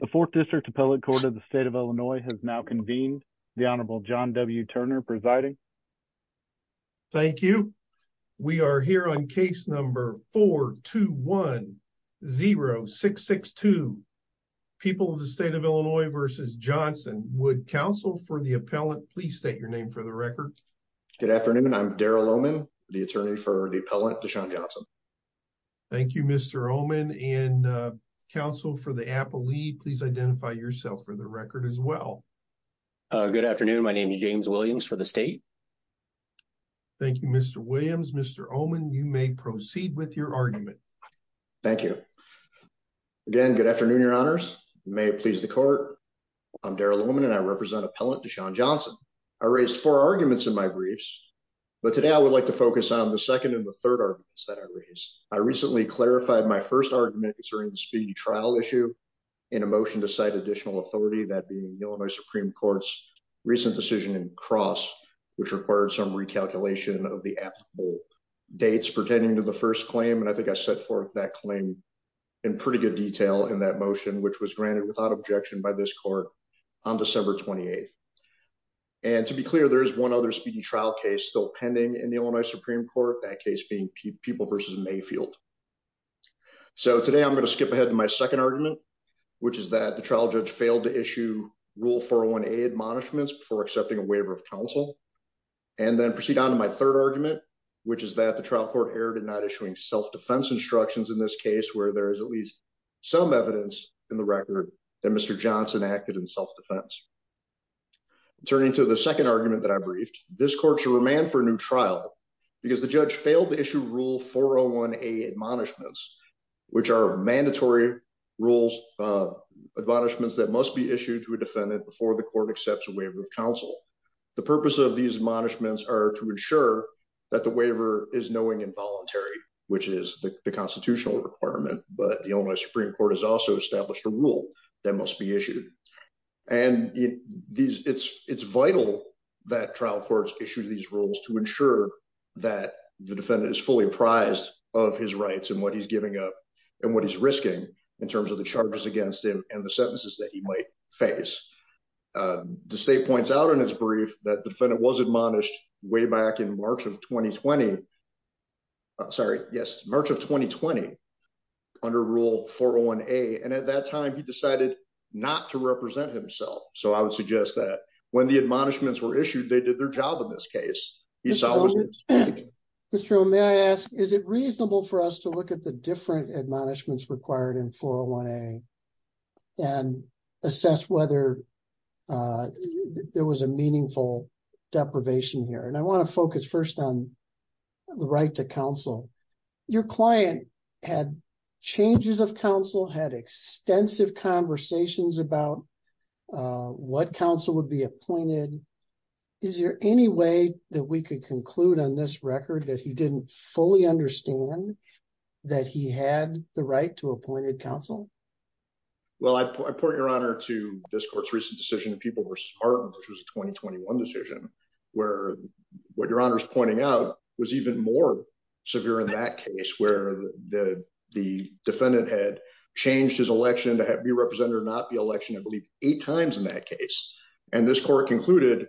Johnson. The 4th District Appellate Court of the State of Illinois has now convened. The Honorable John W. Turner presiding. Thank you. We are here on case number 421-0662. People of the State of Illinois v. Johnson. Would counsel for the appellant please state your name for the record? Good afternoon. I'm Darrell Omen, the attorney for the appellant Desean Johnson. Thank you Mr. Omen. And counsel for the appellate, please identify yourself for the record as well. Good afternoon. My name is James Williams for the state. Thank you Mr. Williams. Mr. Omen, you may proceed with your argument. Thank you. Again, good afternoon, your honors. You may please the court. I'm Darrell Omen and I represent Appellant Desean Johnson. I raised four arguments in my briefs, but today I would like to focus on the second and the third arguments that I raised. I recently clarified my first argument concerning the speedy trial issue in a motion to cite additional authority, that being the Illinois Supreme Court's recent decision in Cross, which required some recalculation of the applicable dates pertaining to the first claim. And I think I set forth that claim in pretty good detail in that motion, which was granted without objection by this court on December 28th. And to be clear, there is one other speedy trial case still pending in the Supreme Court, that case being People v. Mayfield. So today I'm going to skip ahead to my second argument, which is that the trial judge failed to issue Rule 401A admonishments before accepting a waiver of counsel. And then proceed on to my third argument, which is that the trial court erred in not issuing self-defense instructions in this case where there is at least some evidence in the record that Mr. Johnson acted in self-defense. Turning to the second argument that I briefed, this court should remand for a new trial because the judge failed to issue Rule 401A admonishments, which are mandatory rules, admonishments that must be issued to a defendant before the court accepts a waiver of counsel. The purpose of these admonishments are to ensure that the waiver is knowing and voluntary, which is the constitutional requirement, but the Illinois Supreme Court has also established a rule that must be issued. And it's vital that trial courts issue these rules to ensure that the defendant is fully apprised of his rights and what he's giving up and what he's risking in terms of the charges against him and the sentences that he might face. The state points out in his brief that the defendant was admonished way back in March of 2020, sorry, yes, March of 2020 under Rule 401A, and at that time he decided not to represent himself. So I would suggest that when the admonishments were issued, they did their job in this case. Mr. O, may I ask, is it reasonable for us to look at the different admonishments required in 401A and assess whether there was a meaningful deprivation here? And I want to focus first on the right to counsel. Your client had changes of counsel, had extensive conversations about what counsel would be appointed. Is there any way that we could conclude on this record that he didn't fully understand that he had the right to appointed counsel? Well, I point your honor to this court's recent decision in People v. Martin, which was a 2021 decision, where what your honor is pointing out was even more severe in that case, where the defendant had changed his election to be represented or not be elected, I believe, eight times in that case. And this court concluded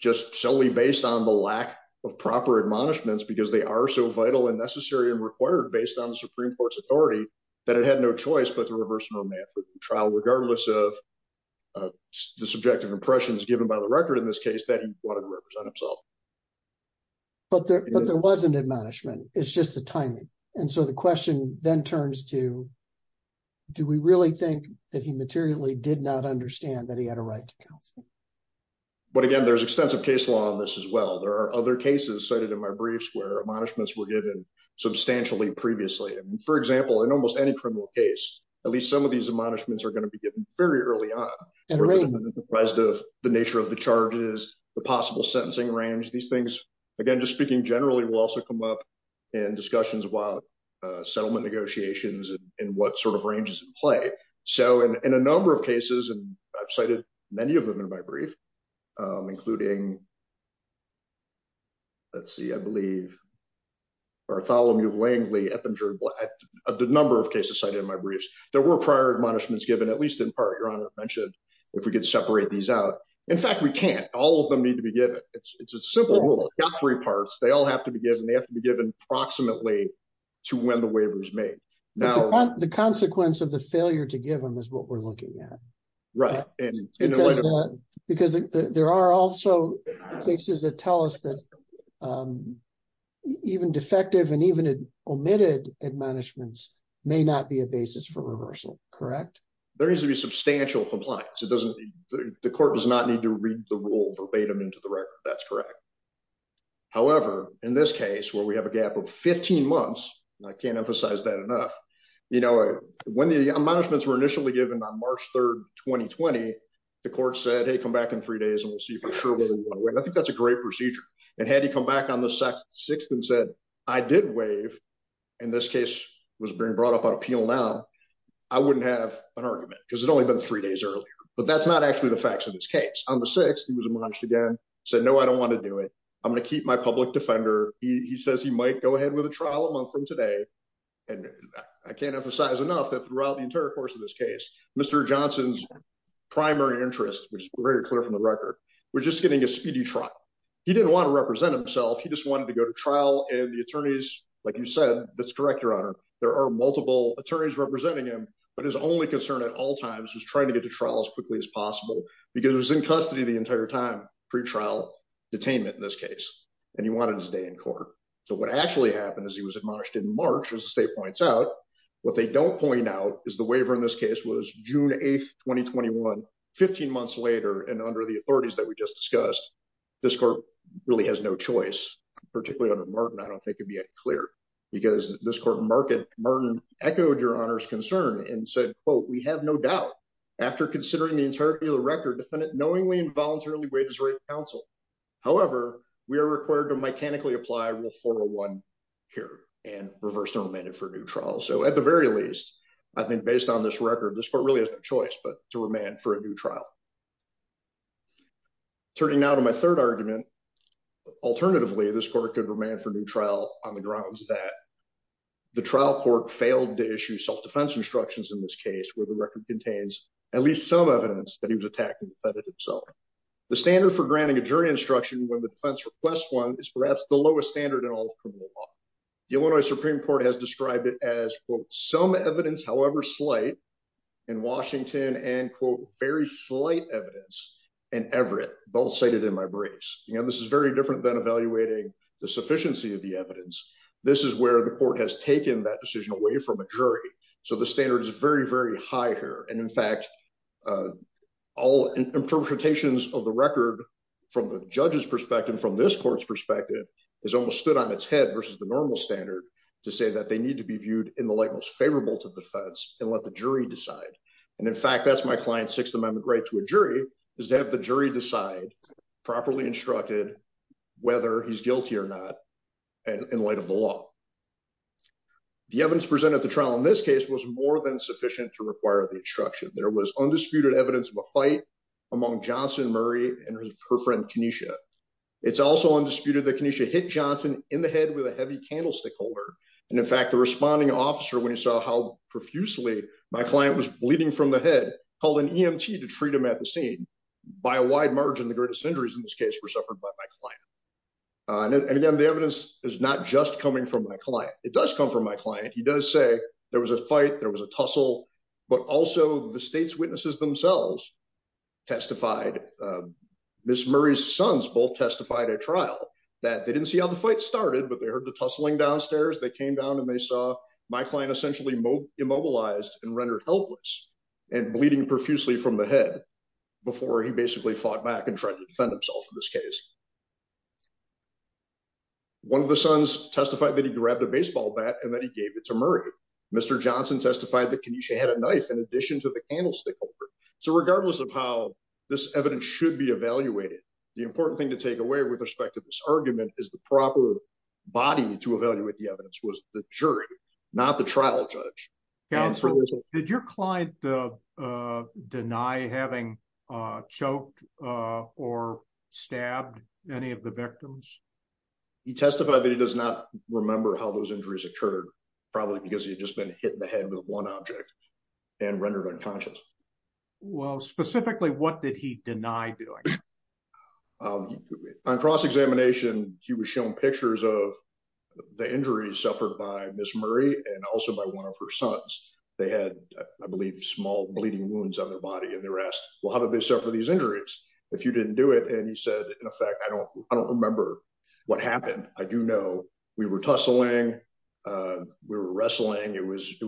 just solely based on the lack of proper admonishments, because they are so vital and necessary and required based on the Supreme Court's authority, that it had no choice but to reverse the trial, regardless of the subjective impressions given by the record in this case that he wanted to represent himself. But there wasn't admonishment, it's just the timing. And so the question then turns to, do we really think that he materially did not understand that he had a right to counsel? But again, there's extensive case law on this as well. There are other cases cited in my briefs where admonishments were given substantially previously. And for example, in almost any on the nature of the charges, the possible sentencing range, these things, again, just speaking generally will also come up in discussions about settlement negotiations and what sort of ranges in play. So in a number of cases, and I've cited many of them in my brief, including, let's see, I believe, Bartholomew Langley, the number of cases cited in my briefs, prior admonishments given, at least in part, Your Honor mentioned, if we could separate these out. In fact, we can't, all of them need to be given. It's a simple rule, not three parts, they all have to be given, they have to be given approximately to when the waiver is made. Now, the consequence of the failure to give them is what we're looking at. Right. And because there are also cases that tell us that even defective and even omitted admonishments may not be a basis for reversal, correct? There needs to be substantial compliance. The court does not need to read the rule verbatim into the record. That's correct. However, in this case, where we have a gap of 15 months, and I can't emphasize that enough, when the admonishments were initially given on March 3rd, 2020, the court said, hey, come back in three days and we'll see for sure whether we want to go back on the 6th and said, I did waive, and this case was being brought up on appeal now, I wouldn't have an argument because it had only been three days earlier. But that's not actually the facts of this case. On the 6th, he was admonished again, said, no, I don't want to do it. I'm going to keep my public defender. He says he might go ahead with a trial a month from today. And I can't emphasize enough that throughout the entire course of this case, Mr. Johnson's primary interest, which is very clear from the record, was just getting a speedy trial. He didn't want to represent himself. He just wanted to go to trial and the attorneys, like you said, that's correct, Your Honor. There are multiple attorneys representing him, but his only concern at all times was trying to get to trial as quickly as possible because it was in custody the entire time, pre-trial detainment in this case, and he wanted to stay in court. So what actually happened is he was admonished in March, as the state points out. What they don't point out is the waiver in this case was June 8th, 15 months later, and under the authorities that we just discussed, this court really has no choice, particularly under Martin. I don't think it'd be any clearer because this court in Martin echoed Your Honor's concern and said, quote, we have no doubt after considering the entirety of the record, the defendant knowingly and voluntarily waived his right to counsel. However, we are required to mechanically apply Rule 401 here and reverse their amendment for a new trial. So at the very least, I think based on this record, this court really has no choice but to remand for a new trial. Turning now to my third argument, alternatively, this court could remand for a new trial on the grounds that the trial court failed to issue self-defense instructions in this case where the record contains at least some evidence that he was attacking the defendant himself. The standard for granting a jury instruction when the defense requests one is perhaps the lowest standard in all of criminal law. The Illinois Supreme Court has described it as, quote, some evidence, however slight, in Washington and, quote, very slight evidence in Everett, both cited in my briefs. This is very different than evaluating the sufficiency of the evidence. This is where the court has taken that decision away from a jury. So the standard is very, very high here. And in fact, all interpretations of the record from the judge's perspective, from this court's perspective, is almost stood on its head versus the normal standard to say that they need to be viewed in the light most favorable to the defense and let the jury decide. And in fact, that's my client's Sixth Amendment right to a jury, is to have the jury decide, properly instructed, whether he's guilty or not in light of the law. The evidence presented at the trial in this case was more than sufficient to require the instruction. There was undisputed evidence of a fight among Johnson, Murray, and her friend, Kenesha. It's also undisputed that Kenesha hit Johnson in the head with a heavy candlestick holder. And in fact, the responding officer, when he saw how profusely my client was bleeding from the head, called an EMT to treat him at the scene. By a wide margin, the greatest injuries in this case were suffered by my client. And again, the evidence is not just coming from my client. It does come from my client. He does say there was a fight, there was a tussle, but also the state's sons both testified at trial that they didn't see how the fight started, but they heard the tussling downstairs. They came down and they saw my client essentially immobilized and rendered helpless and bleeding profusely from the head before he basically fought back and tried to defend himself in this case. One of the sons testified that he grabbed a baseball bat and that he gave it to Murray. Mr. Johnson testified that Kenesha had a knife in addition to the thing to take away with respect to this argument is the proper body to evaluate the evidence was the jury, not the trial judge. Counsel, did your client deny having choked or stabbed any of the victims? He testified that he does not remember how those injuries occurred, probably because he had just been hit in the head with one object and rendered unconscious. Well, specifically, what did he deny doing? On cross-examination, he was shown pictures of the injuries suffered by Ms. Murray and also by one of her sons. They had, I believe, small bleeding wounds on their body, and they were asked, well, how did they suffer these injuries if you didn't do it? And he said, in effect, I don't remember what happened. I do know we were tussling, we were wrestling. It was a fight.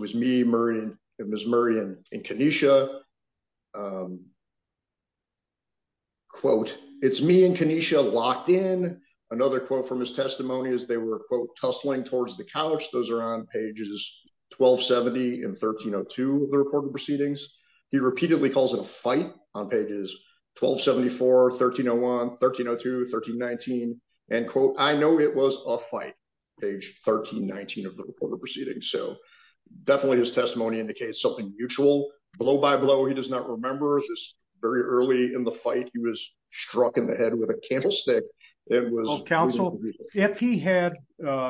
Quote, it's me and Kenesha locked in. Another quote from his testimony is they were, quote, tussling towards the couch. Those are on pages 1270 and 1302 of the reported proceedings. He repeatedly calls it a fight on pages 1274, 1301, 1302, 1319, and quote, I know it was a fight, page 1319 of the reported proceedings. So definitely his testimony indicates something mutual. Blow by blow, he does not remember. It was very early in the fight. He was struck in the head with a candlestick. It was- Counsel, if he had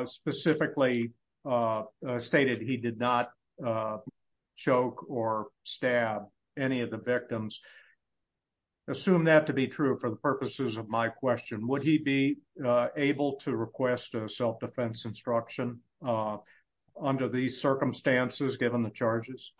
specifically stated he did not choke or stab any of the victims, assume that to be true for the purposes of my question, would he be able to request a self-defense instruction under these circumstances, given the charges?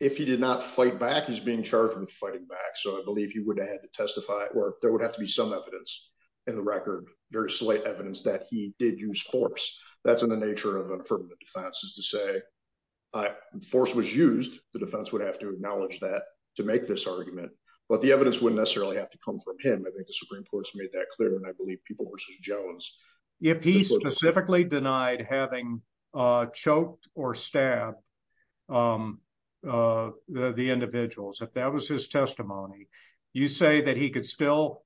If he did not fight back, he's being charged with fighting back. So I believe he would have to testify, or there would have to be some evidence in the record, very slight evidence that he did use force. That's in the nature of an affirmative defense is to say, force was used, the defense would have to acknowledge that to make this argument. But the evidence wouldn't necessarily have to come from him. I think the Supreme Court's made that clear. And I believe people versus Jones- If he specifically denied having choked or stabbed the individuals, if that was his testimony, you say that he could still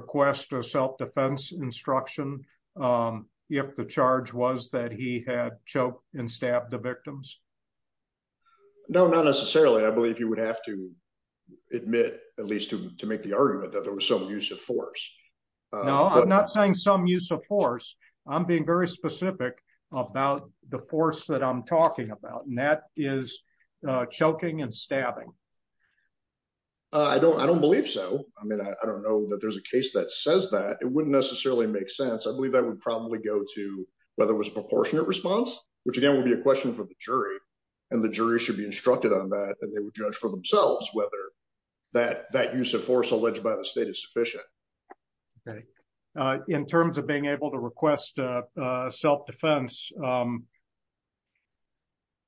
request a self-defense instruction if the charge was that he had choked and stabbed the victims? No, not necessarily. I believe you would have to at least to make the argument that there was some use of force. No, I'm not saying some use of force. I'm being very specific about the force that I'm talking about. And that is choking and stabbing. I don't believe so. I mean, I don't know that there's a case that says that. It wouldn't necessarily make sense. I believe that would probably go to whether it was a proportionate response, which again, would be a question for the jury. And the jury should be instructed on that and they would judge for themselves whether that use of force alleged by the state is sufficient. Okay. In terms of being able to request self-defense,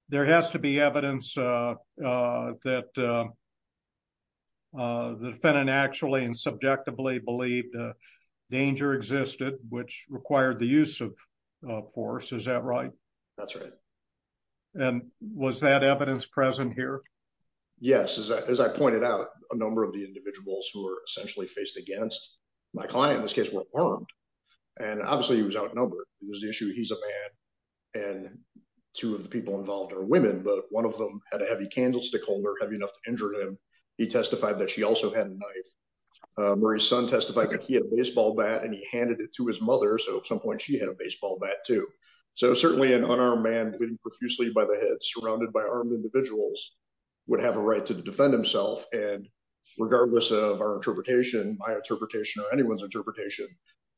there has to be evidence that the defendant actually and subjectively believed danger existed, which required the use of force. Is that right? That's right. And was that evidence present here? Yes. As I pointed out, a number of the individuals who were essentially faced against my client in this case were harmed. And obviously he was outnumbered. It was the issue he's a man and two of the people involved are women, but one of them had a heavy candlestick holder, heavy enough to injure him. He testified that she also had a knife. Murray's son testified that he had a baseball bat and he handed it to his mother. So at some point she had a baseball bat too. So certainly an unarmed man, beating profusely by the head, surrounded by armed individuals would have a right to defend himself. And regardless of our interpretation, my interpretation or anyone's interpretation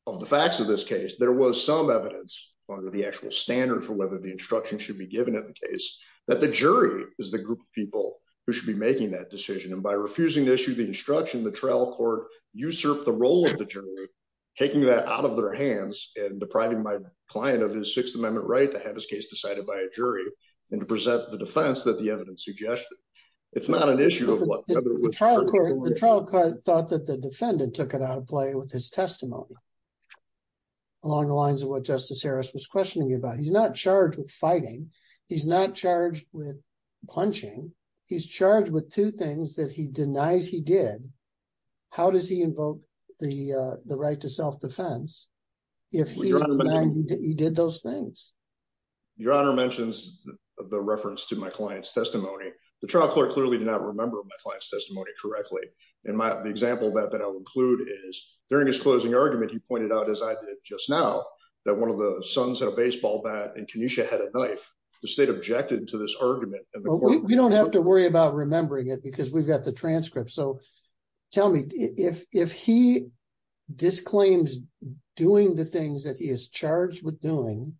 of the facts of this case, there was some evidence under the actual standard for whether the instruction should be given in the case that the jury is the group of people who should be making that decision. And by refusing to issue the instruction, the trial court usurped the role of the jury, taking that out of their hands and depriving my client of his Sixth Amendment right to have his case decided by a jury and to present the defense that the evidence suggested. It's not an issue of what the trial court thought that the defendant took it out of play with his testimony along the lines of what Justice Harris was questioning about. He's not charged with fighting. He's not charged with punching. He's charged with two things that he denies he did. How does he invoke the right to self-defense if he did those things? Your Honor mentions the reference to my client's testimony. The trial court clearly did not remember my client's testimony correctly. And the example that I'll include is during his closing argument, he pointed out, as I did just now, that one of the sons had a baseball bat and Kenesha had a knife. The state objected to this argument. We don't have to worry about remembering it because we've got the transcript. So tell me, if he disclaims doing the things that he is charged with doing,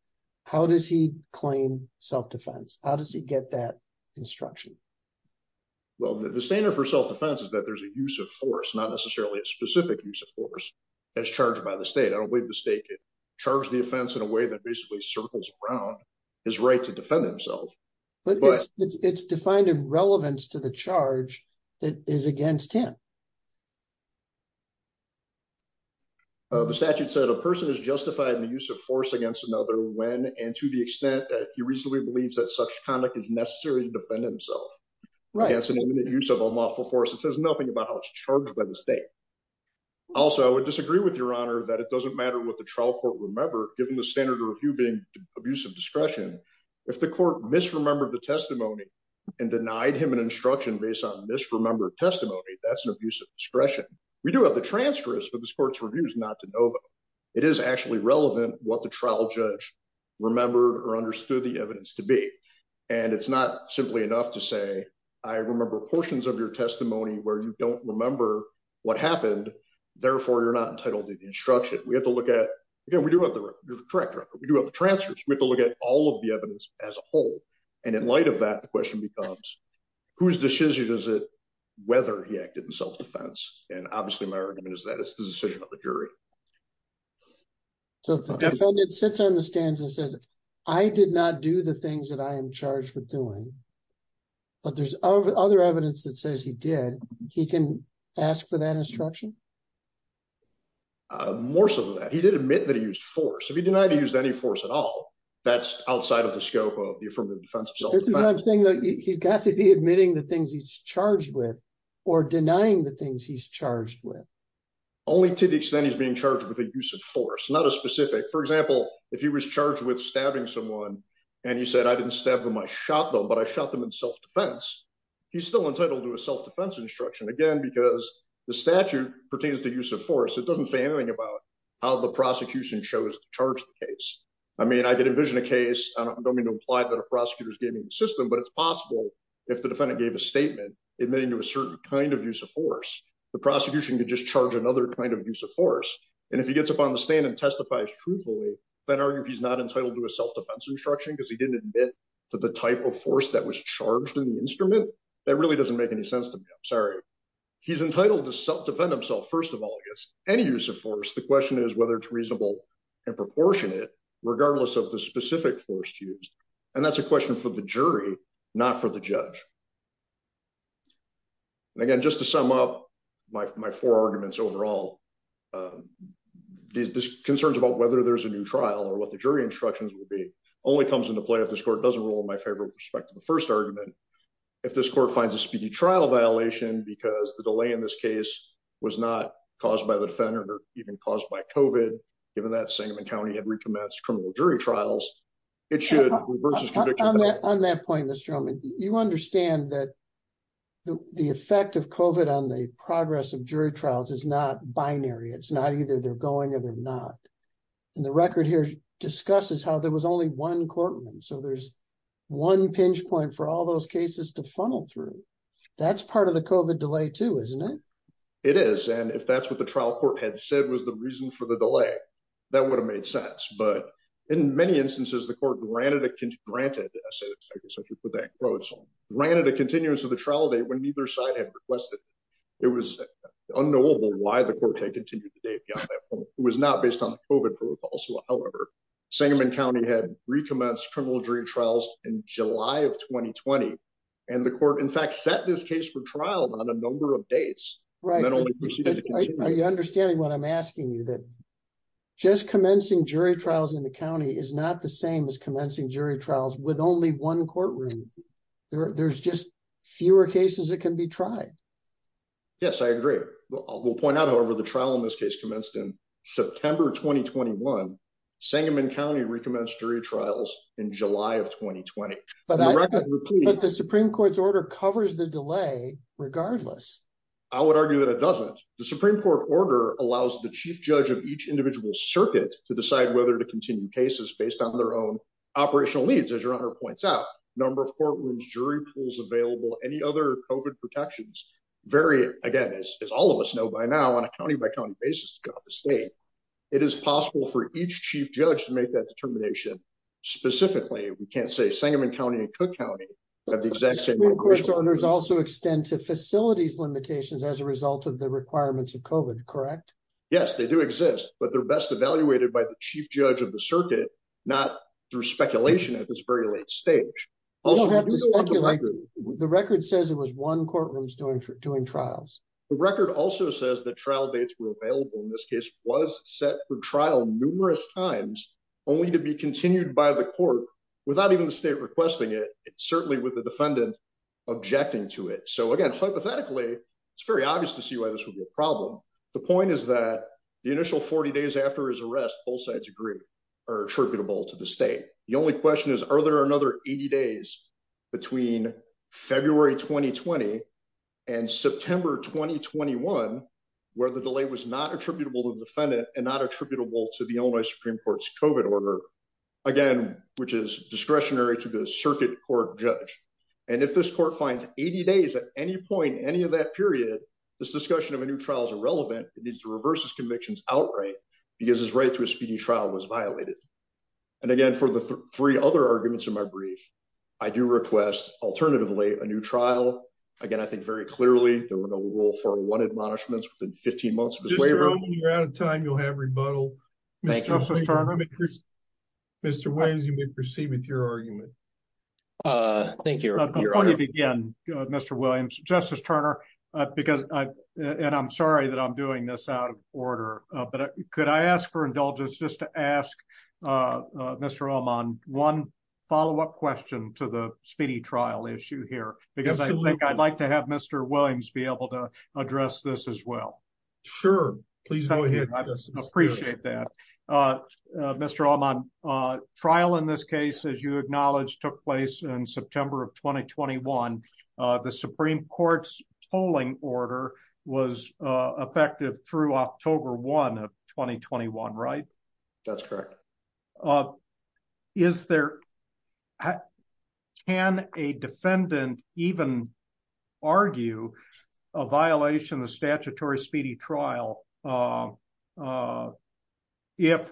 how does he claim self-defense? How does he get that instruction? Well, the standard for self-defense is that there's a use of force, not necessarily a specific use of force, as charged by the state. I don't believe the state could charge the offense in a way that basically circles around his right to defend himself. But it's defined in relevance to the charge that is against him. The statute said, a person is justified in the use of force against another when, and to the extent that he reasonably believes that such conduct is necessary to defend himself against an imminent use of unlawful force. It says nothing about how it's charged by the state. Also, I would disagree with Your Honor that it doesn't matter what the trial court remembered, given the standard of review being abuse of discretion. If the court misremembered the instruction based on misremembered testimony, that's an abuse of discretion. We do have the transcripts, but this court's review is not de novo. It is actually relevant what the trial judge remembered or understood the evidence to be. And it's not simply enough to say, I remember portions of your testimony where you don't remember what happened. Therefore, you're not entitled to the instruction. We have to look at, again, we do have the transcripts, we have to look at all of the evidence as a whole. And in light of that, the question becomes, whose decision is it whether he acted in self-defense? And obviously, my argument is that it's the decision of the jury. So if the defendant sits on the stands and says, I did not do the things that I am charged with doing, but there's other evidence that says he did, he can ask for that instruction? More so than that. He did admit that he used force. If he denied he used any force at all, that's outside of the scope of the affirmative defense. This is what I'm saying though. He's got to be admitting the things he's charged with or denying the things he's charged with. Only to the extent he's being charged with a use of force, not a specific. For example, if he was charged with stabbing someone and he said, I didn't stab them, I shot them, but I shot them in self-defense, he's still entitled to a self-defense instruction. Again, because the statute pertains to use of force. It doesn't say anything about how the prosecution chose to charge the case. I mean, I could envision a case. I don't mean to imply that a prosecutor is gaming the system, but it's possible if the defendant gave a statement admitting to a certain kind of use of force, the prosecution could just charge another kind of use of force. And if he gets up on the stand and testifies truthfully, then arguably he's not entitled to a self-defense instruction because he didn't admit to the type of force that was charged in the instrument. That really doesn't make any sense to me. I'm sorry. He's entitled to self-defend himself, first of all, against any use of force. The question is whether it's reasonable and proportionate regardless of the specific force used. And that's a question for the jury, not for the judge. And again, just to sum up my four arguments overall, this concerns about whether there's a new trial or what the jury instructions would be only comes into play if this court doesn't rule in my favorite respect to the first argument. If this court finds a speedy trial violation, because the delay in this case was not caused by the defendant or even caused by COVID. Given that Sangamon County had recommenced criminal jury trials, it should reverse this prediction. On that point, Mr. Drummond, you understand that the effect of COVID on the progress of jury trials is not binary. It's not either they're going or they're not. And the record here discusses how there was only one courtroom. So there's one pinch point for all those cases to funnel through. That's part of the COVID delay too, isn't it? It is. And if that's what the trial court had said was the reason for the delay, that would have made sense. But in many instances, the court granted a continuous of the trial date when neither side had requested. It was unknowable why the court had continued the date. It was not based on COVID protocols. However, Sangamon County had recommenced criminal jury trials in July of 2020. And the court, in fact, set this case for trial on a number of dates. Are you understanding what I'm asking you? That just commencing jury trials in the county is not the same as commencing jury trials with only one courtroom. There's just fewer cases that can be tried. Yes, I agree. We'll point out, however, the trial in this case commenced in September 2021. Sangamon County recommenced jury trials in July of 2020. But the Supreme Court's order covers the delay regardless. I would argue that it doesn't. The Supreme Court order allows the chief judge of each individual circuit to decide whether to continue cases based on their own operational needs. As your honor points out, number of courtrooms, jury pools available, any other COVID protections vary. Again, as all of us know by now on a county by county basis, it is possible for each chief judge to make that determination. Specifically, we can't say Sangamon County and Cook County have the exact same jurisdiction. The Supreme Court's orders also extend to facilities limitations as a result of the requirements of COVID, correct? Yes, they do exist, but they're best evaluated by the chief judge of the circuit, not through speculation at this very late stage. Also, we do have the record. The record says it was one courtroom doing trials. The record also says that trial dates were available in this case was set for trial numerous times, only to be continued by the court without even the state requesting it, certainly with the defendant objecting to it. So again, hypothetically, it's very obvious to see why this would be a problem. The point is that the initial 40 days after his arrest, both sides agree are attributable to the state. The only question is, are there another 80 days between February 2020 and September 2021, where the delay was not attributable to the defendant to the Illinois Supreme Court's COVID order, again, which is discretionary to the circuit court judge. And if this court finds 80 days at any point, any of that period, this discussion of a new trial is irrelevant. It needs to reverse his convictions outright because his right to a speedy trial was violated. And again, for the three other arguments in my brief, I do request alternatively a new trial. Again, I think very clearly there were no rule 401 admonishments in 15 months. You're out of time. You'll have rebuttal. Mr. Williams, you may proceed with your argument. Thank you. Again, Mr. Williams, Justice Turner, because I and I'm sorry that I'm doing this out of order, but could I ask for indulgence just to ask Mr. Oman one follow up question to the speedy trial issue here, because I think I'd like to have Mr. Williams be able to Sure. Please go ahead. I just appreciate that. Mr. Oman trial in this case, as you acknowledge, took place in September of 2021. The Supreme Court's tolling order was effective through October one of 2021. Right. That's correct. Is there and a defendant even argue a violation of Torrey speedy trial? If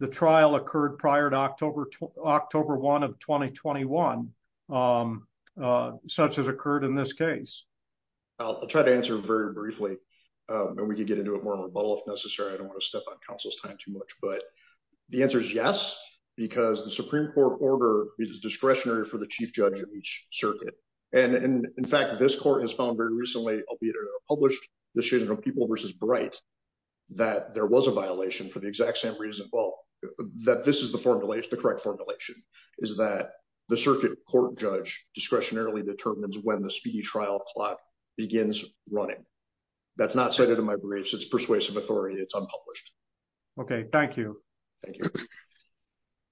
the trial occurred prior to October, October one of 2021, such as occurred in this case, I'll try to answer very briefly. And we can get into a more rebuttal if necessary. I don't want to step on Council's time too much. But the answer is yes, because the Supreme Court order is discretionary for the chief judge of each circuit. And in fact, this court has found very recently, albeit published the shade of people versus bright, that there was a violation for the exact same reason. Well, that this is the formulation, the correct formulation is that the circuit court judge discretionarily determines when the speedy trial clock begins running. That's not cited in my briefs. It's persuasive authority. It's unpublished. Okay, thank you. Thank you.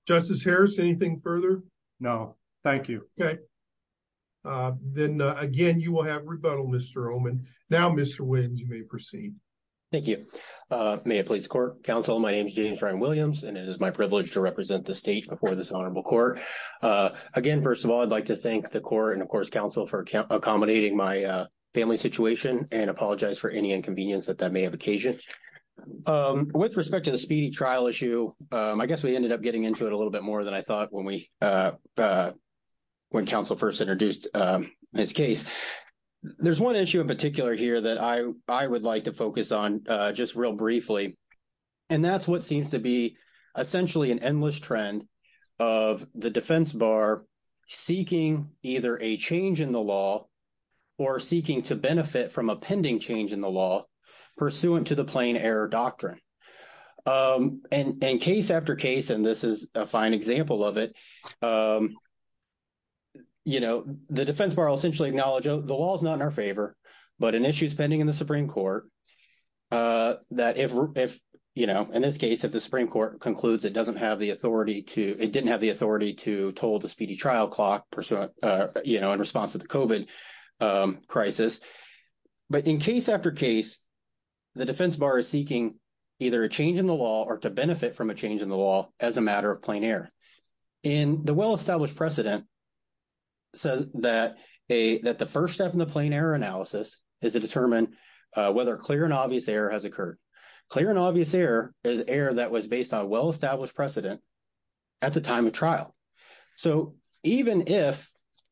Justice Harris, anything further? No, thank you. Okay. Then, again, you will have rebuttal, Mr. Oman. Now, Mr. Williams, you may proceed. Thank you. May it please court counsel, my name is James Ryan Williams, and it is my privilege to represent the state before this honorable court. Again, first of all, I'd like to thank the court and of course, counsel for accommodating my family situation and apologize for any inconvenience that that may have occasion. With respect to the speedy trial issue, I guess we ended up getting into it a little bit early when counsel first introduced this case. There's one issue in particular here that I would like to focus on just real briefly, and that's what seems to be essentially an endless trend of the defense bar seeking either a change in the law or seeking to benefit from a pending change in the law pursuant to the plain error doctrine. And case after case, and this is a fine example of it, you know, the defense bar will essentially acknowledge the law is not in our favor, but an issue is pending in the Supreme Court that if, you know, in this case, if the Supreme Court concludes it doesn't have the authority to, it didn't have the authority to toll the speedy trial clock, you know, in response to the COVID crisis. But in case after case, the defense bar is seeking either a change in the law or to benefit from a change in the law as a matter of plain error. And the well-established precedent says that the first step in the plain error analysis is to determine whether clear and obvious error has occurred. Clear and obvious error is error that was based on well-established precedent at the time of trial. So even if,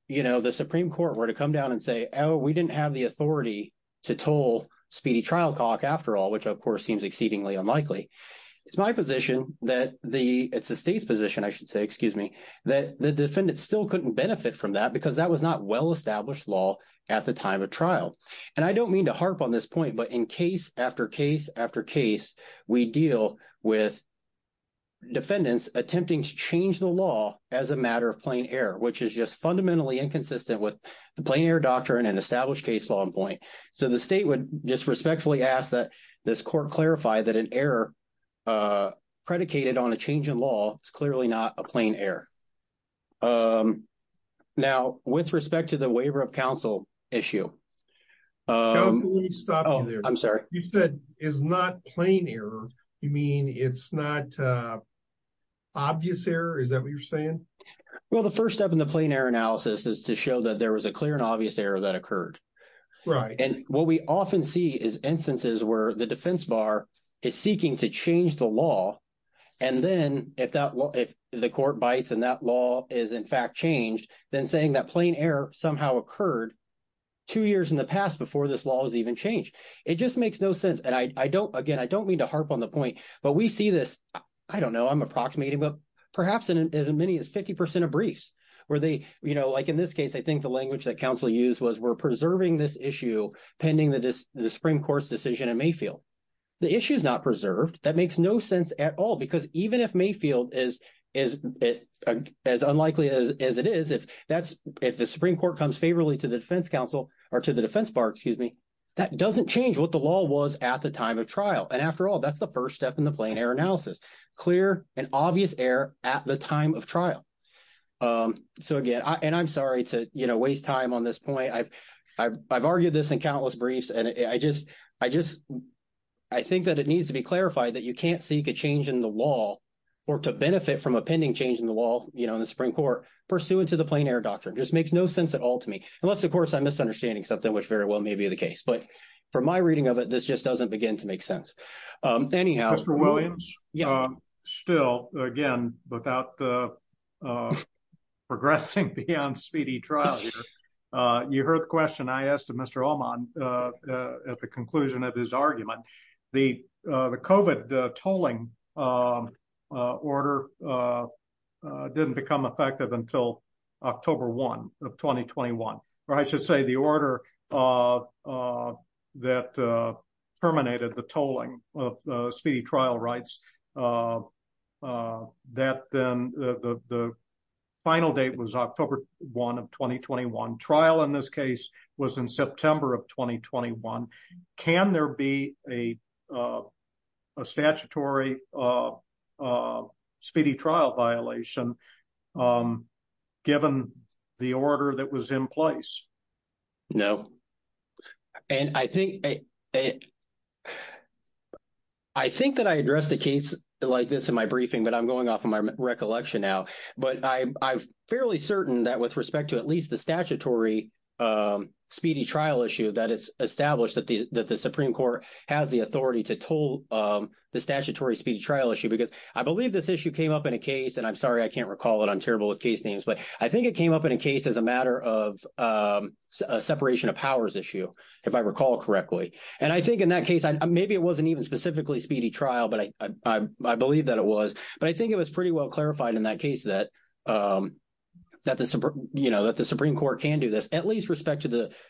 you know, the Supreme Court were to come down and say, oh, we didn't have the authority to toll speedy trial clock after all, which of course seems exceedingly unlikely, it's my position that the, it's the state's position, I should say, excuse me, that the defendant still couldn't benefit from that because that was not well-established law at the time of trial. And I don't mean to harp on this point, but in case after case after case, we deal with defendants attempting to change the law as a matter of plain error, which is just fundamentally inconsistent with the plain error doctrine and established case law in point. So the state would just respectfully ask that this court clarify that an error predicated on a change in law is clearly not a plain error. Now, with respect to the waiver of counsel issue. Counsel, let me stop you there. I'm sorry. You said it's not plain error. You mean it's not obvious error? Is that what you're saying? Well, the first step in the plain error analysis is to show that there was a clear and obvious error that occurred. Right. And what we often see is instances where the defense bar is seeking to change the law. And then if that law, if the court bites and that law is in fact changed, then saying that plain error somehow occurred two years in the past before this law was even changed. It just makes no sense. And I don't, again, I don't mean to harp on the point, but we see this, I don't know, I'm approximating, but perhaps in as many as 50% of people, they think the language that counsel used was we're preserving this issue pending the Supreme Court's decision in Mayfield. The issue is not preserved. That makes no sense at all, because even if Mayfield is as unlikely as it is, if that's, if the Supreme Court comes favorably to the defense counsel or to the defense bar, excuse me, that doesn't change what the law was at the time of trial. And after all, that's the first step in the plain error analysis, clear and obvious error at the time of trial. So again, and I'm sorry to, you know, waste time on this point. I've argued this in countless briefs, and I just, I think that it needs to be clarified that you can't seek a change in the law or to benefit from a pending change in the law, you know, in the Supreme Court pursuant to the plain error doctrine. Just makes no sense at all to me. Unless, of course, I'm misunderstanding something, which very well may be the case. But from my reading of it, this just doesn't begin to make sense. Anyhow... Mr. Williams, still, again, without progressing beyond speedy trial here, you heard the question I asked of Mr. Allman at the conclusion of his argument. The COVID tolling order didn't become effective until October 1 of 2021. Or I should say the order that terminated the tolling of speedy trial rights, that then the final date was October 1 of 2021. Trial in this case was in September of 2021. Can there be a statutory speedy trial violation given the order that was in place? No. And I think that I addressed a case like this in my briefing, but I'm going off of my recollection now. But I'm fairly certain that with respect to at least the statutory speedy trial issue that it's established that the Supreme Court has the authority to toll the statutory speedy trial issue. Because I believe this issue came up in a case, and I'm sorry I can't recall it. I'm terrible with case names. But I think it came up in a case as a matter of separation of powers issue, if I recall correctly. And I think in that case, maybe it wasn't even specifically speedy trial, but I believe that it was. But I think it was pretty well clarified in that case that the Supreme Court can do this, at least respect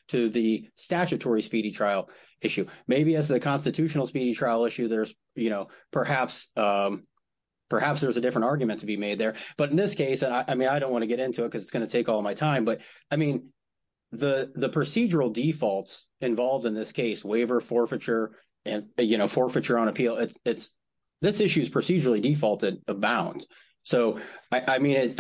to the statutory speedy trial issue. Maybe as the constitutional speedy trial issue, there's perhaps there's a different argument to be made there. But in this case, I mean, I don't want to get into it because it's going to take all my time. But I mean, the procedural defaults involved in this case, waiver forfeiture and, you know, forfeiture on appeal, it's this issue is procedurally defaulted abound. So, I mean,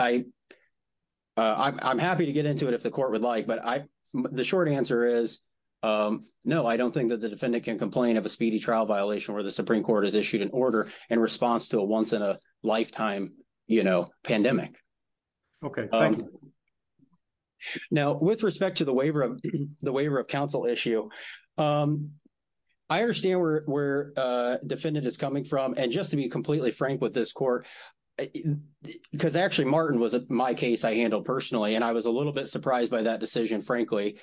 I'm happy to get into it if the court would like. But the short answer is, no, I don't think that the defendant can complain of a speedy trial violation where the Supreme Court has issued an order in response to a once-in-a-lifetime, you know, pandemic. Okay. Thanks. Now, with respect to the waiver of counsel issue, I understand where defendant is coming from. And just to be completely frank with this court, because actually Martin was my case I handled personally, and I was a little bit surprised by that decision, frankly,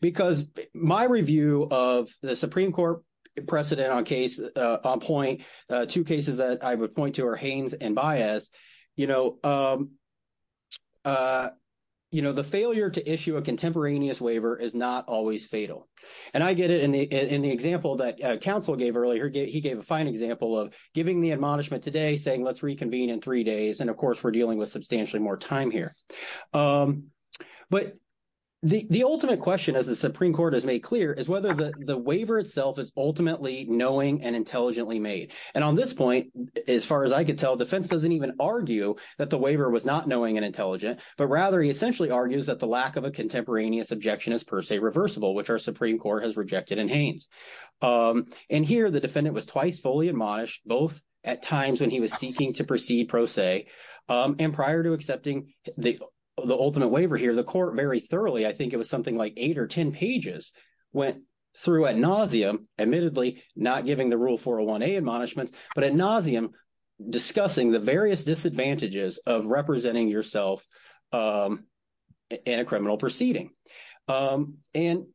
because my review of the Supreme Court precedent on case on point, two cases that I would point to are Haines and Baez, you know, the failure to issue a contemporaneous waiver is not always fatal. And I get it in the example that counsel gave earlier. He gave a fine example of giving the admonishment today, saying, let's reconvene in three days. And of course, we're dealing with substantially more time here. But the ultimate question, as the Supreme Court has made clear, is whether the waiver itself is ultimately knowing and intelligently made. And on this point, as far as I could tell, defense doesn't even argue that the waiver was not knowing and intelligent, but rather he essentially argues that the lack of a contemporaneous objection is per se reversible, which our Supreme Court has rejected in Haines. And here the defendant was twice fully admonished, both at times when he was seeking to proceed pro se, and prior to accepting the ultimate waiver here, the court very thoroughly, I think it was something like eight or ten pages, went through ad nauseam, admittedly not giving the rule 401A admonishments, but ad nauseam discussing the various disadvantages of representing yourself in a criminal proceeding. And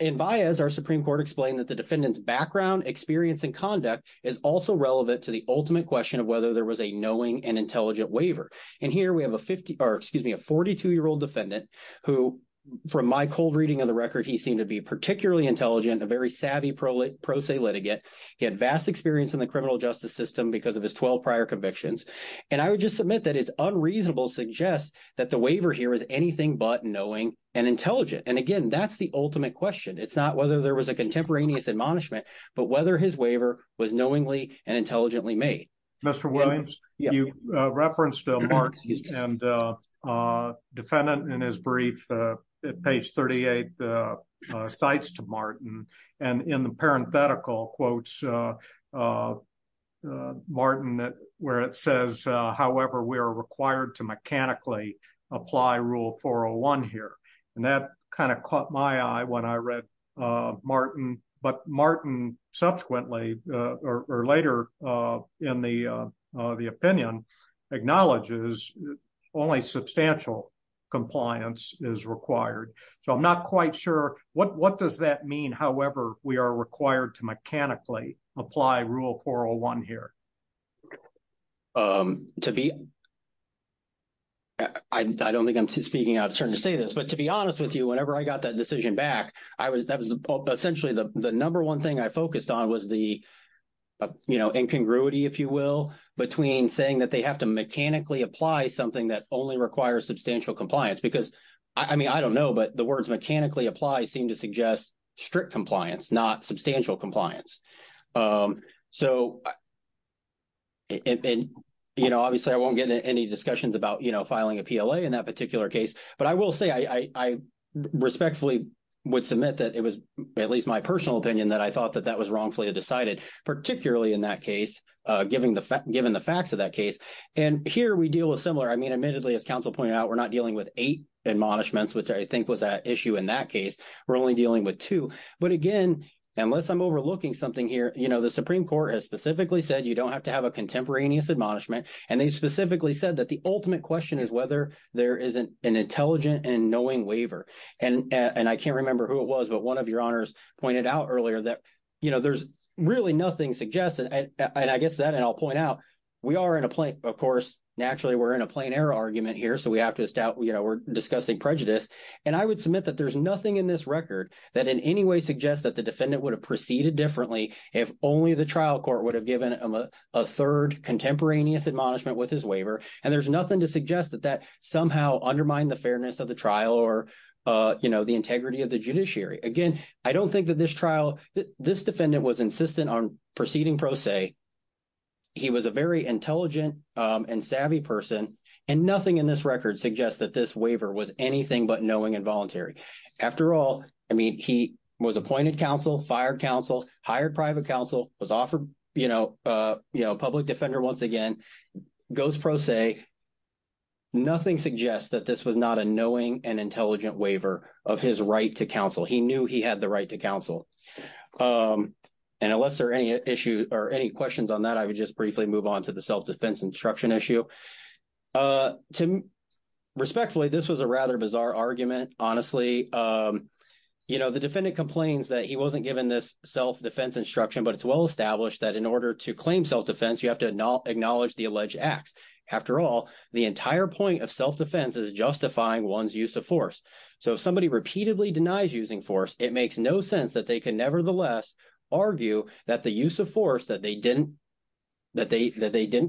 in Baez, our Supreme Court explained that the defendant's background, experience, and conduct is also relevant to the ultimate question of whether there was a knowing and intelligent waiver. And here we have a 50, or excuse me, a 42-year-old defendant who, from my cold reading of the record, he seemed to be particularly intelligent, a very because of his 12 prior convictions. And I would just submit that it's unreasonable to suggest that the waiver here is anything but knowing and intelligent. And again, that's the ultimate question. It's not whether there was a contemporaneous admonishment, but whether his waiver was knowingly and intelligently made. Mr. Williams, you referenced Martin and defendant in brief at page 38, cites to Martin, and in the parenthetical quotes, Martin, where it says, however, we are required to mechanically apply rule 401 here. And that kind of caught my eye when I read Martin, but Martin subsequently, or later in the opinion, acknowledges only substantial compliance is required. So I'm not quite sure, what does that mean, however, we are required to mechanically apply rule 401 here? I don't think I'm speaking out of turn to say this, but to be honest with you, whenever I got that decision back, that was essentially the number one thing I focused on was the, you know, incongruity, if you will, between saying that they have to mechanically apply something that only requires substantial compliance. Because, I mean, I don't know, but the words mechanically apply seem to suggest strict compliance, not substantial compliance. So, you know, obviously, I won't get into any discussions about, you know, filing a PLA in that particular case. But I will say I respectfully would submit that it was at least my personal opinion that I thought that that was wrongfully decided, particularly in that case, given the facts of that case. And here we deal with similar, I mean, admittedly, as counsel pointed out, we're not dealing with eight admonishments, which I think was an issue in that case, we're only dealing with two. But again, unless I'm overlooking something here, you know, the Supreme Court has specifically said you don't have to have a contemporaneous admonishment. And they specifically said that the ultimate question is whether there is an intelligent and knowing waiver. And I can't remember who it was, but one of your honors pointed out earlier that, you know, there's really nothing suggested. And I guess that, and I'll point out, we are in a plain, of course, naturally, we're in a plain error argument here. So we have to start, you know, we're discussing prejudice. And I would submit that there's nothing in this record that in any way suggests that the defendant would have proceeded differently if only the trial court would have given him a third contemporaneous admonishment with his waiver. And there's nothing to suggest that that somehow undermined the fairness of the trial or, you know, the integrity of the judiciary. Again, I don't think that this trial, this defendant was insistent on proceeding pro se. He was a very intelligent and savvy person. And nothing in this record suggests that this waiver was anything but knowing and voluntary. After all, I mean, he was appointed counsel, fired counsel, hired private counsel, was offered, you know, public defender once again, goes pro se. Nothing suggests that this was not a knowing and intelligent waiver of his right to counsel. He knew he had the right to counsel. And unless there are any issues or any questions on that, I would just briefly move on to the self-defense instruction issue. Respectfully, this was a rather bizarre argument. Honestly, you know, the defendant complains that he wasn't given this self-defense instruction, but it's well established that in order to claim self-defense, you have to acknowledge the alleged acts. After all, the entire point of self-defense is justifying one's use of force. So if somebody repeatedly denies using force, it makes no sense that they can nevertheless argue that the use of force that they didn't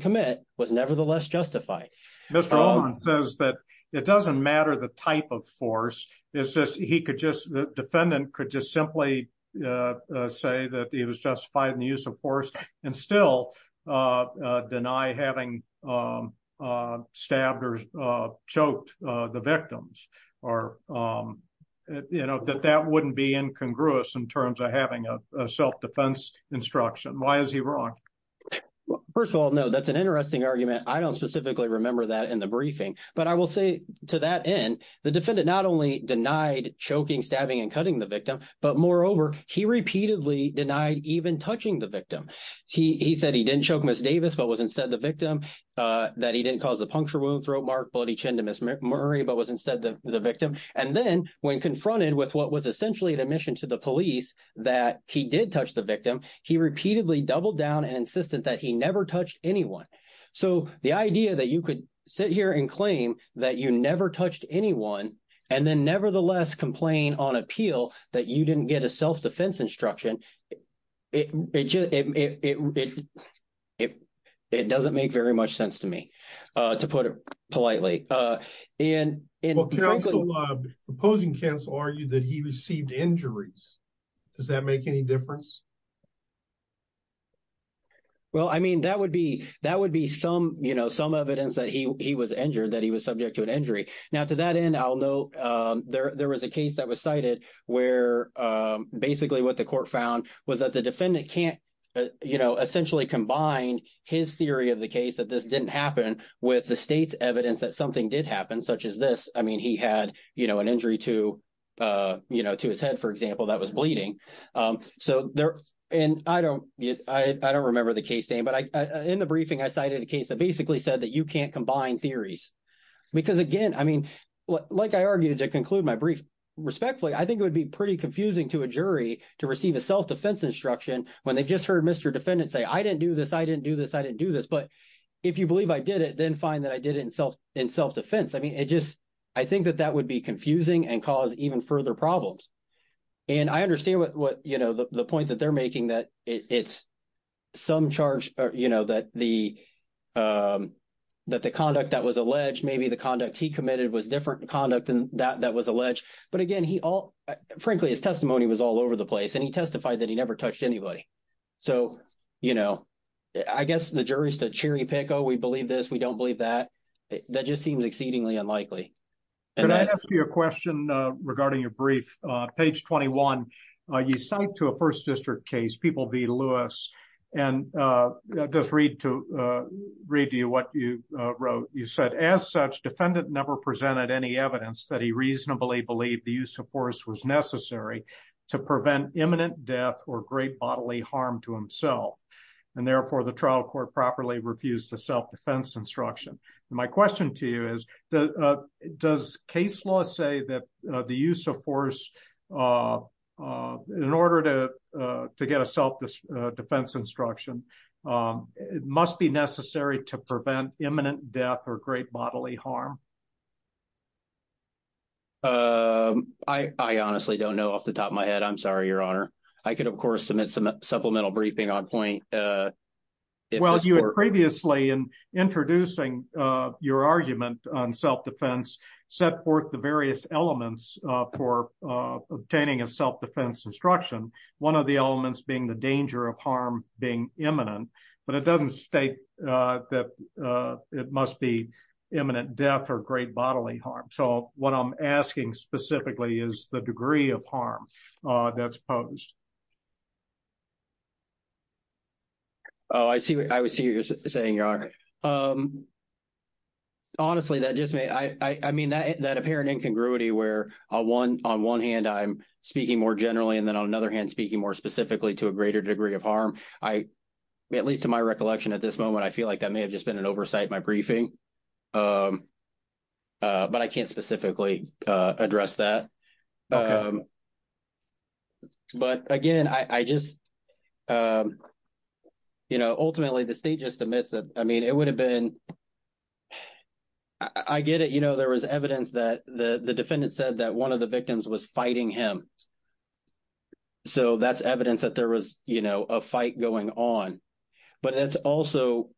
commit was nevertheless justified. Mr. Alden says that it doesn't matter the type of force, it's just he could just, the defendant could just simply say that he was justified in the use of force. Deny having stabbed or choked the victims or, you know, that that wouldn't be incongruous in terms of having a self-defense instruction. Why is he wrong? First of all, no, that's an interesting argument. I don't specifically remember that in the briefing, but I will say to that end, the defendant not only denied choking, stabbing, and cutting the victim, but moreover, he repeatedly denied even touching the victim. He said he didn't choke Ms. Davis, but was instead the victim, that he didn't cause the puncture wound, throat mark, bloody chin to Ms. Murray, but was instead the victim. And then when confronted with what was essentially an admission to the police that he did touch the victim, he repeatedly doubled down and insisted that he never touched anyone. So the idea that you could sit here and claim that you never touched anyone and then nevertheless complain on appeal that you didn't get a self-defense instruction, it doesn't make very much sense to me, to put it politely. The opposing counsel argued that he received injuries. Does that make any difference? Well, I mean, that would be some evidence that he was injured, that he was subject to an injury. Now to that end, I'll note there was a case that was cited where basically what the court found was that the defendant can't essentially combine his theory of the case that this didn't happen with the state's evidence that something did happen such as this. I mean, he had an injury to his head, for example, that was bleeding. And I don't remember the case name, but in the briefing, I cited a case that basically said that you can't combine theories. Because again, I mean, like I argued to conclude my brief respectfully, I think it would be pretty confusing to a jury to receive a self-defense instruction when they've just heard Mr. defendant say I didn't do this, I didn't do this, I didn't do this. But if you believe I did it, then fine that I did it in self-defense. I mean, it just – I think that that would be confusing and cause even further problems. And I understand what – the point that they're making that it's some charge that the conduct that was alleged, maybe the conduct he committed was different conduct than that that was alleged. But again, he all – frankly, his testimony was all over the place, and he testified that he never touched anybody. So I guess the jury's to cherry pick, oh, we believe this, we don't believe that. That just seems exceedingly unlikely. Can I ask you a question regarding your brief? Page 21, you cite to a first district case, People v. Lewis, and I'll just read to you what you wrote. You said, as such, defendant never presented any evidence that he reasonably believed the use of force was necessary to prevent imminent death or great bodily harm to himself, and therefore the trial court properly refused the self-defense instruction. My question to you is, does case law say that the use of force in order to get a self-defense instruction must be necessary to prevent imminent death or great bodily harm? I honestly don't know off the top of my head. I'm sorry, Your Honor. I could, of course, submit some supplemental briefing on point. Well, you had previously, in introducing your argument on self-defense, set forth the various elements for obtaining a self-defense instruction, one of the elements being the danger of harm being imminent. But it doesn't state that it must be imminent death or great bodily harm. So what I'm asking specifically is the degree of harm that's posed. Oh, I see what you're saying, Your Honor. Honestly, that just may – I mean, that apparent incongruity where on one hand I'm speaking more generally and then on another hand speaking more specifically to a greater degree of harm, I – at least to my recollection at this moment, I feel like that may have just been an oversight in my briefing, but I can't specifically address that. Okay. But, again, I just – ultimately, the state just admits that – I mean, it would have been – I get it. There was evidence that the defendant said that one of the victims was fighting him. So that's evidence that there was a fight going on. But it's also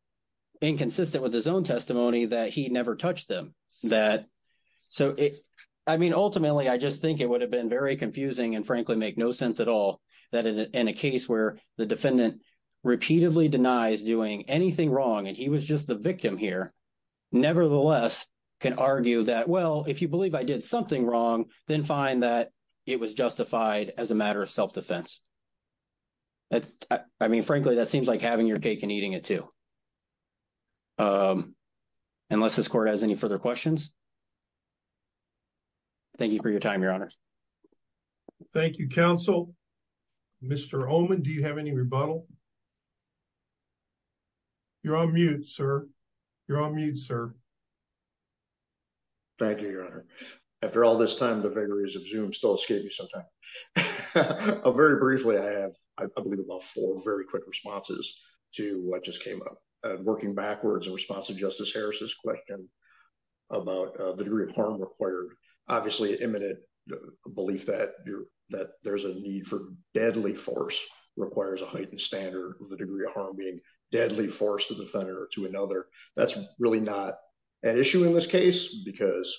inconsistent with his own testimony that he never touched them, that – so it's – I mean, ultimately, I just think it would have been – I mean, it would have been very confusing and, frankly, make no sense at all that in a case where the defendant repeatedly denies doing anything wrong and he was just the victim here, nevertheless, can argue that, well, if you believe I did something wrong, then fine that it was justified as a matter of self-defense. I mean, frankly, that seems like having your cake and eating it too. Unless this Court has any further questions. Thank you for your time, Your Honor. Thank you, counsel. Mr. Oman, do you have any rebuttal? You're on mute, sir. You're on mute, sir. Thank you, Your Honor. After all this time, the vagaries of Zoom still escape me sometimes. Very briefly, I have, I believe, about four very quick responses to what just came up. Working backwards, in response to Justice Harris's question about the degree of harm required, obviously, imminent belief that there's a need for deadly force requires a heightened standard with the degree of harm being deadly force to the defender or to another. That's really not an issue in this case because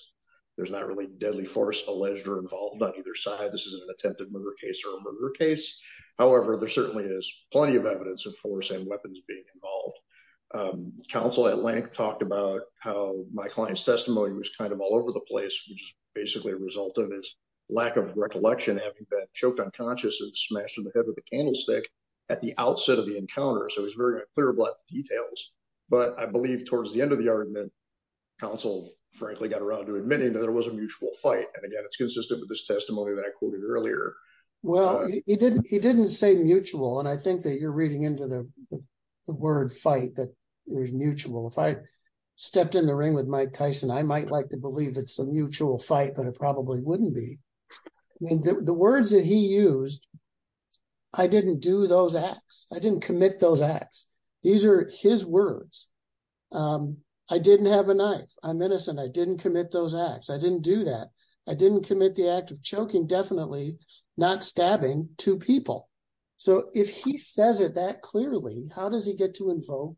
there's not really deadly force alleged or involved on either side. This isn't an attempted murder case or a murder case. However, there certainly is plenty of evidence of force and weapons being involved. Counsel at length talked about how my client's testimony was kind of all over the place, which is basically a result of his lack of recollection, having been choked unconscious and smashed in the head with a candlestick at the outset of the encounter. So he's very clear about details. But I believe towards the end of the argument, counsel, frankly, got around to admitting that there was a mutual fight. And again, it's consistent with this testimony that I quoted earlier. Well, he didn't say mutual. And I think that you're reading into the word fight that there's mutual. If I stepped in the ring with Mike Tyson, I might like to believe it's a mutual fight, but it probably wouldn't be. The words that he used, I didn't do those acts. I didn't commit those acts. These are his words. I didn't have a knife. I'm innocent. I didn't commit those acts. I didn't do that. I didn't commit the act of choking definitely not stabbing two people. So if he says it that clearly, how does he get to invoke,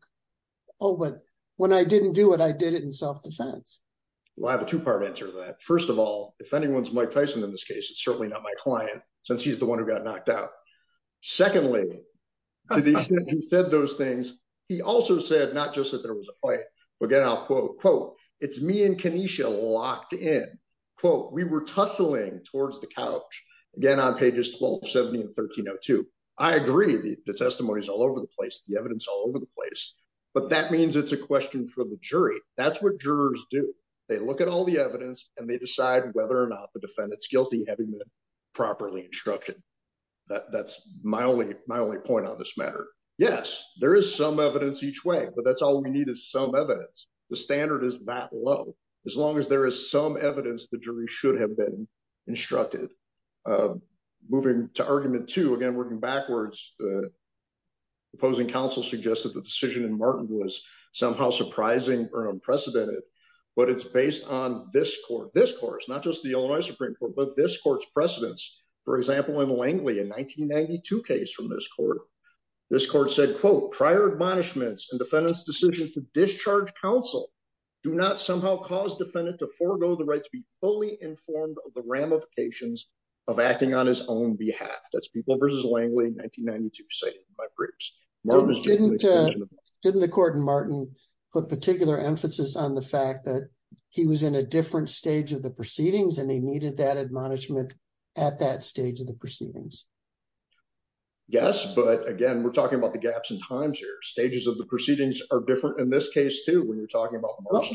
oh, but when I didn't do it, I did it in self defense. Well, I have a two part answer to that. First of all, if anyone's Mike Tyson in this case, it's certainly not my client, since he's the one who got knocked out. Secondly, he said those things. He also said, not just that there was a fight, but again, I'll quote, quote, it's me and Kenesha locked in, quote, we were tussling towards the couch. Again, on pages 1270 and 1302. I agree the testimonies all over the place, the evidence all over the place. But that means it's a question for the jury. That's what jurors do. They look at all the evidence and they decide whether or not the defendant's guilty having been properly instructed. That's my only my only point on this matter. Yes, there is some evidence each way. But that's all we need is some evidence. The standard is that low, as long as there is some evidence the jury should have been instructed. Moving to argument to again working backwards. Opposing counsel suggested the decision in Martin was somehow surprising or unprecedented. But it's based on this court discourse, not just the Illinois Supreme Court, but this court's precedents, for example, in Langley in 1992 case from this court. This court said, quote, prior admonishments and defendants decision to discharge counsel. Do not somehow cause defendant to forego the right to be fully informed of the ramifications of acting on his own behalf. That's people versus Langley 1992 say my briefs. Didn't the court and Martin put particular emphasis on the fact that he was in a different stage of the proceedings and they needed that admonishment at that stage of the proceedings. Yes, but again, we're talking about the gaps in times here stages of the proceedings are different. In this case, too, when you're talking about But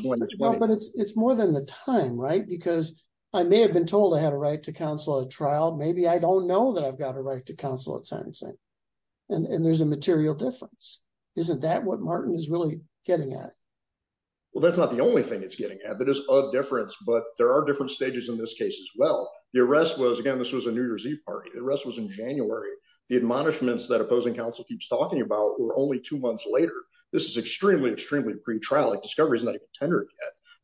it's more than the time right because I may have been told I had a right to counsel a trial. Maybe I don't know that I've got a right to counsel at sentencing and there's a material difference. Isn't that what Martin is really getting at. Well, that's not the only thing it's getting at that is a difference, but there are different stages in this case as well. The arrest was again. This was a New Year's Eve party. The rest was in January. The admonishments that opposing counsel keeps talking about. We're only two months later, this is extremely, extremely pretrial discovery is not tender.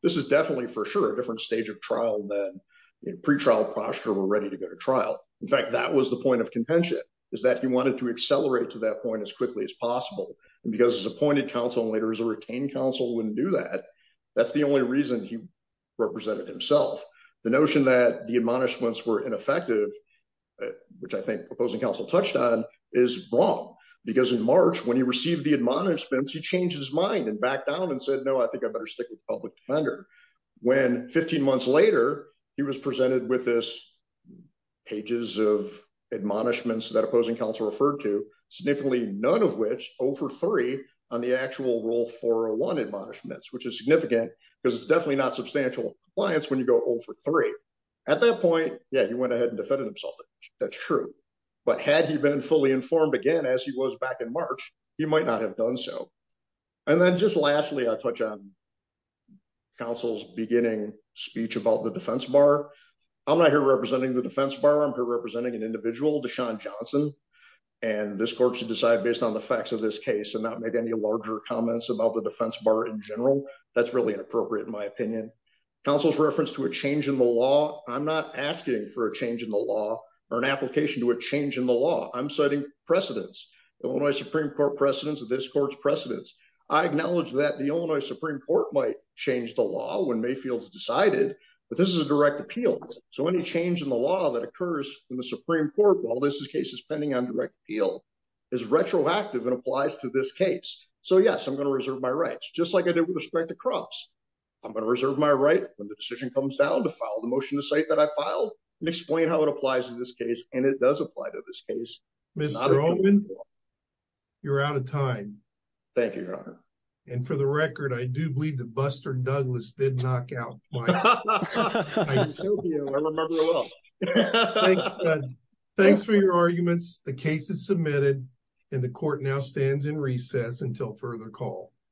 This is definitely for sure different stage of trial that in pretrial posture. We're ready to go to trial. In fact, that was the point of contention. Is that he wanted to accelerate to that point as quickly as possible, because his appointed counsel and later as a retained counsel wouldn't do that. That's the only reason he Represented himself. The notion that the admonishments were ineffective. Which I think opposing counsel touched on is wrong because in March when he received the admonishments he changed his mind and back down and said, No, I think I better stick with public defender. When 15 months later, he was presented with this Pages of admonishments that opposing counsel referred to significantly, none of which over three on the actual rule for one admonishments, which is significant because it's definitely not substantial compliance when you go over three At that point, yeah, you went ahead and defended himself. That's true. But had he been fully informed again as he was back in March, he might not have done so. And then just lastly, I touch on Counsel's beginning speech about the defense bar. I'm not here representing the defense bar. I'm here representing an individual to Sean Johnson. And this court should decide based on the facts of this case and not make any larger comments about the defense bar in general. That's really inappropriate, in my opinion. Counsel's reference to a change in the law. I'm not asking for a change in the law or an application to a change in the law. I'm citing precedents. The Illinois Supreme Court precedents of this court's precedents. I acknowledge that the Illinois Supreme Court might change the law when Mayfield's decided But this is a direct appeal. So any change in the law that occurs in the Supreme Court while this case is pending on direct appeal. Is retroactive and applies to this case. So yes, I'm going to reserve my rights, just like I did with respect to cross I'm going to reserve my right when the decision comes down to file the motion to cite that I filed and explain how it applies to this case and it does apply to this case. Mr. Roman You're out of time. Thank you, your honor. And for the record, I do believe that Buster Douglas did knock out. Thanks for your arguments the case is submitted and the court now stands in recess until further call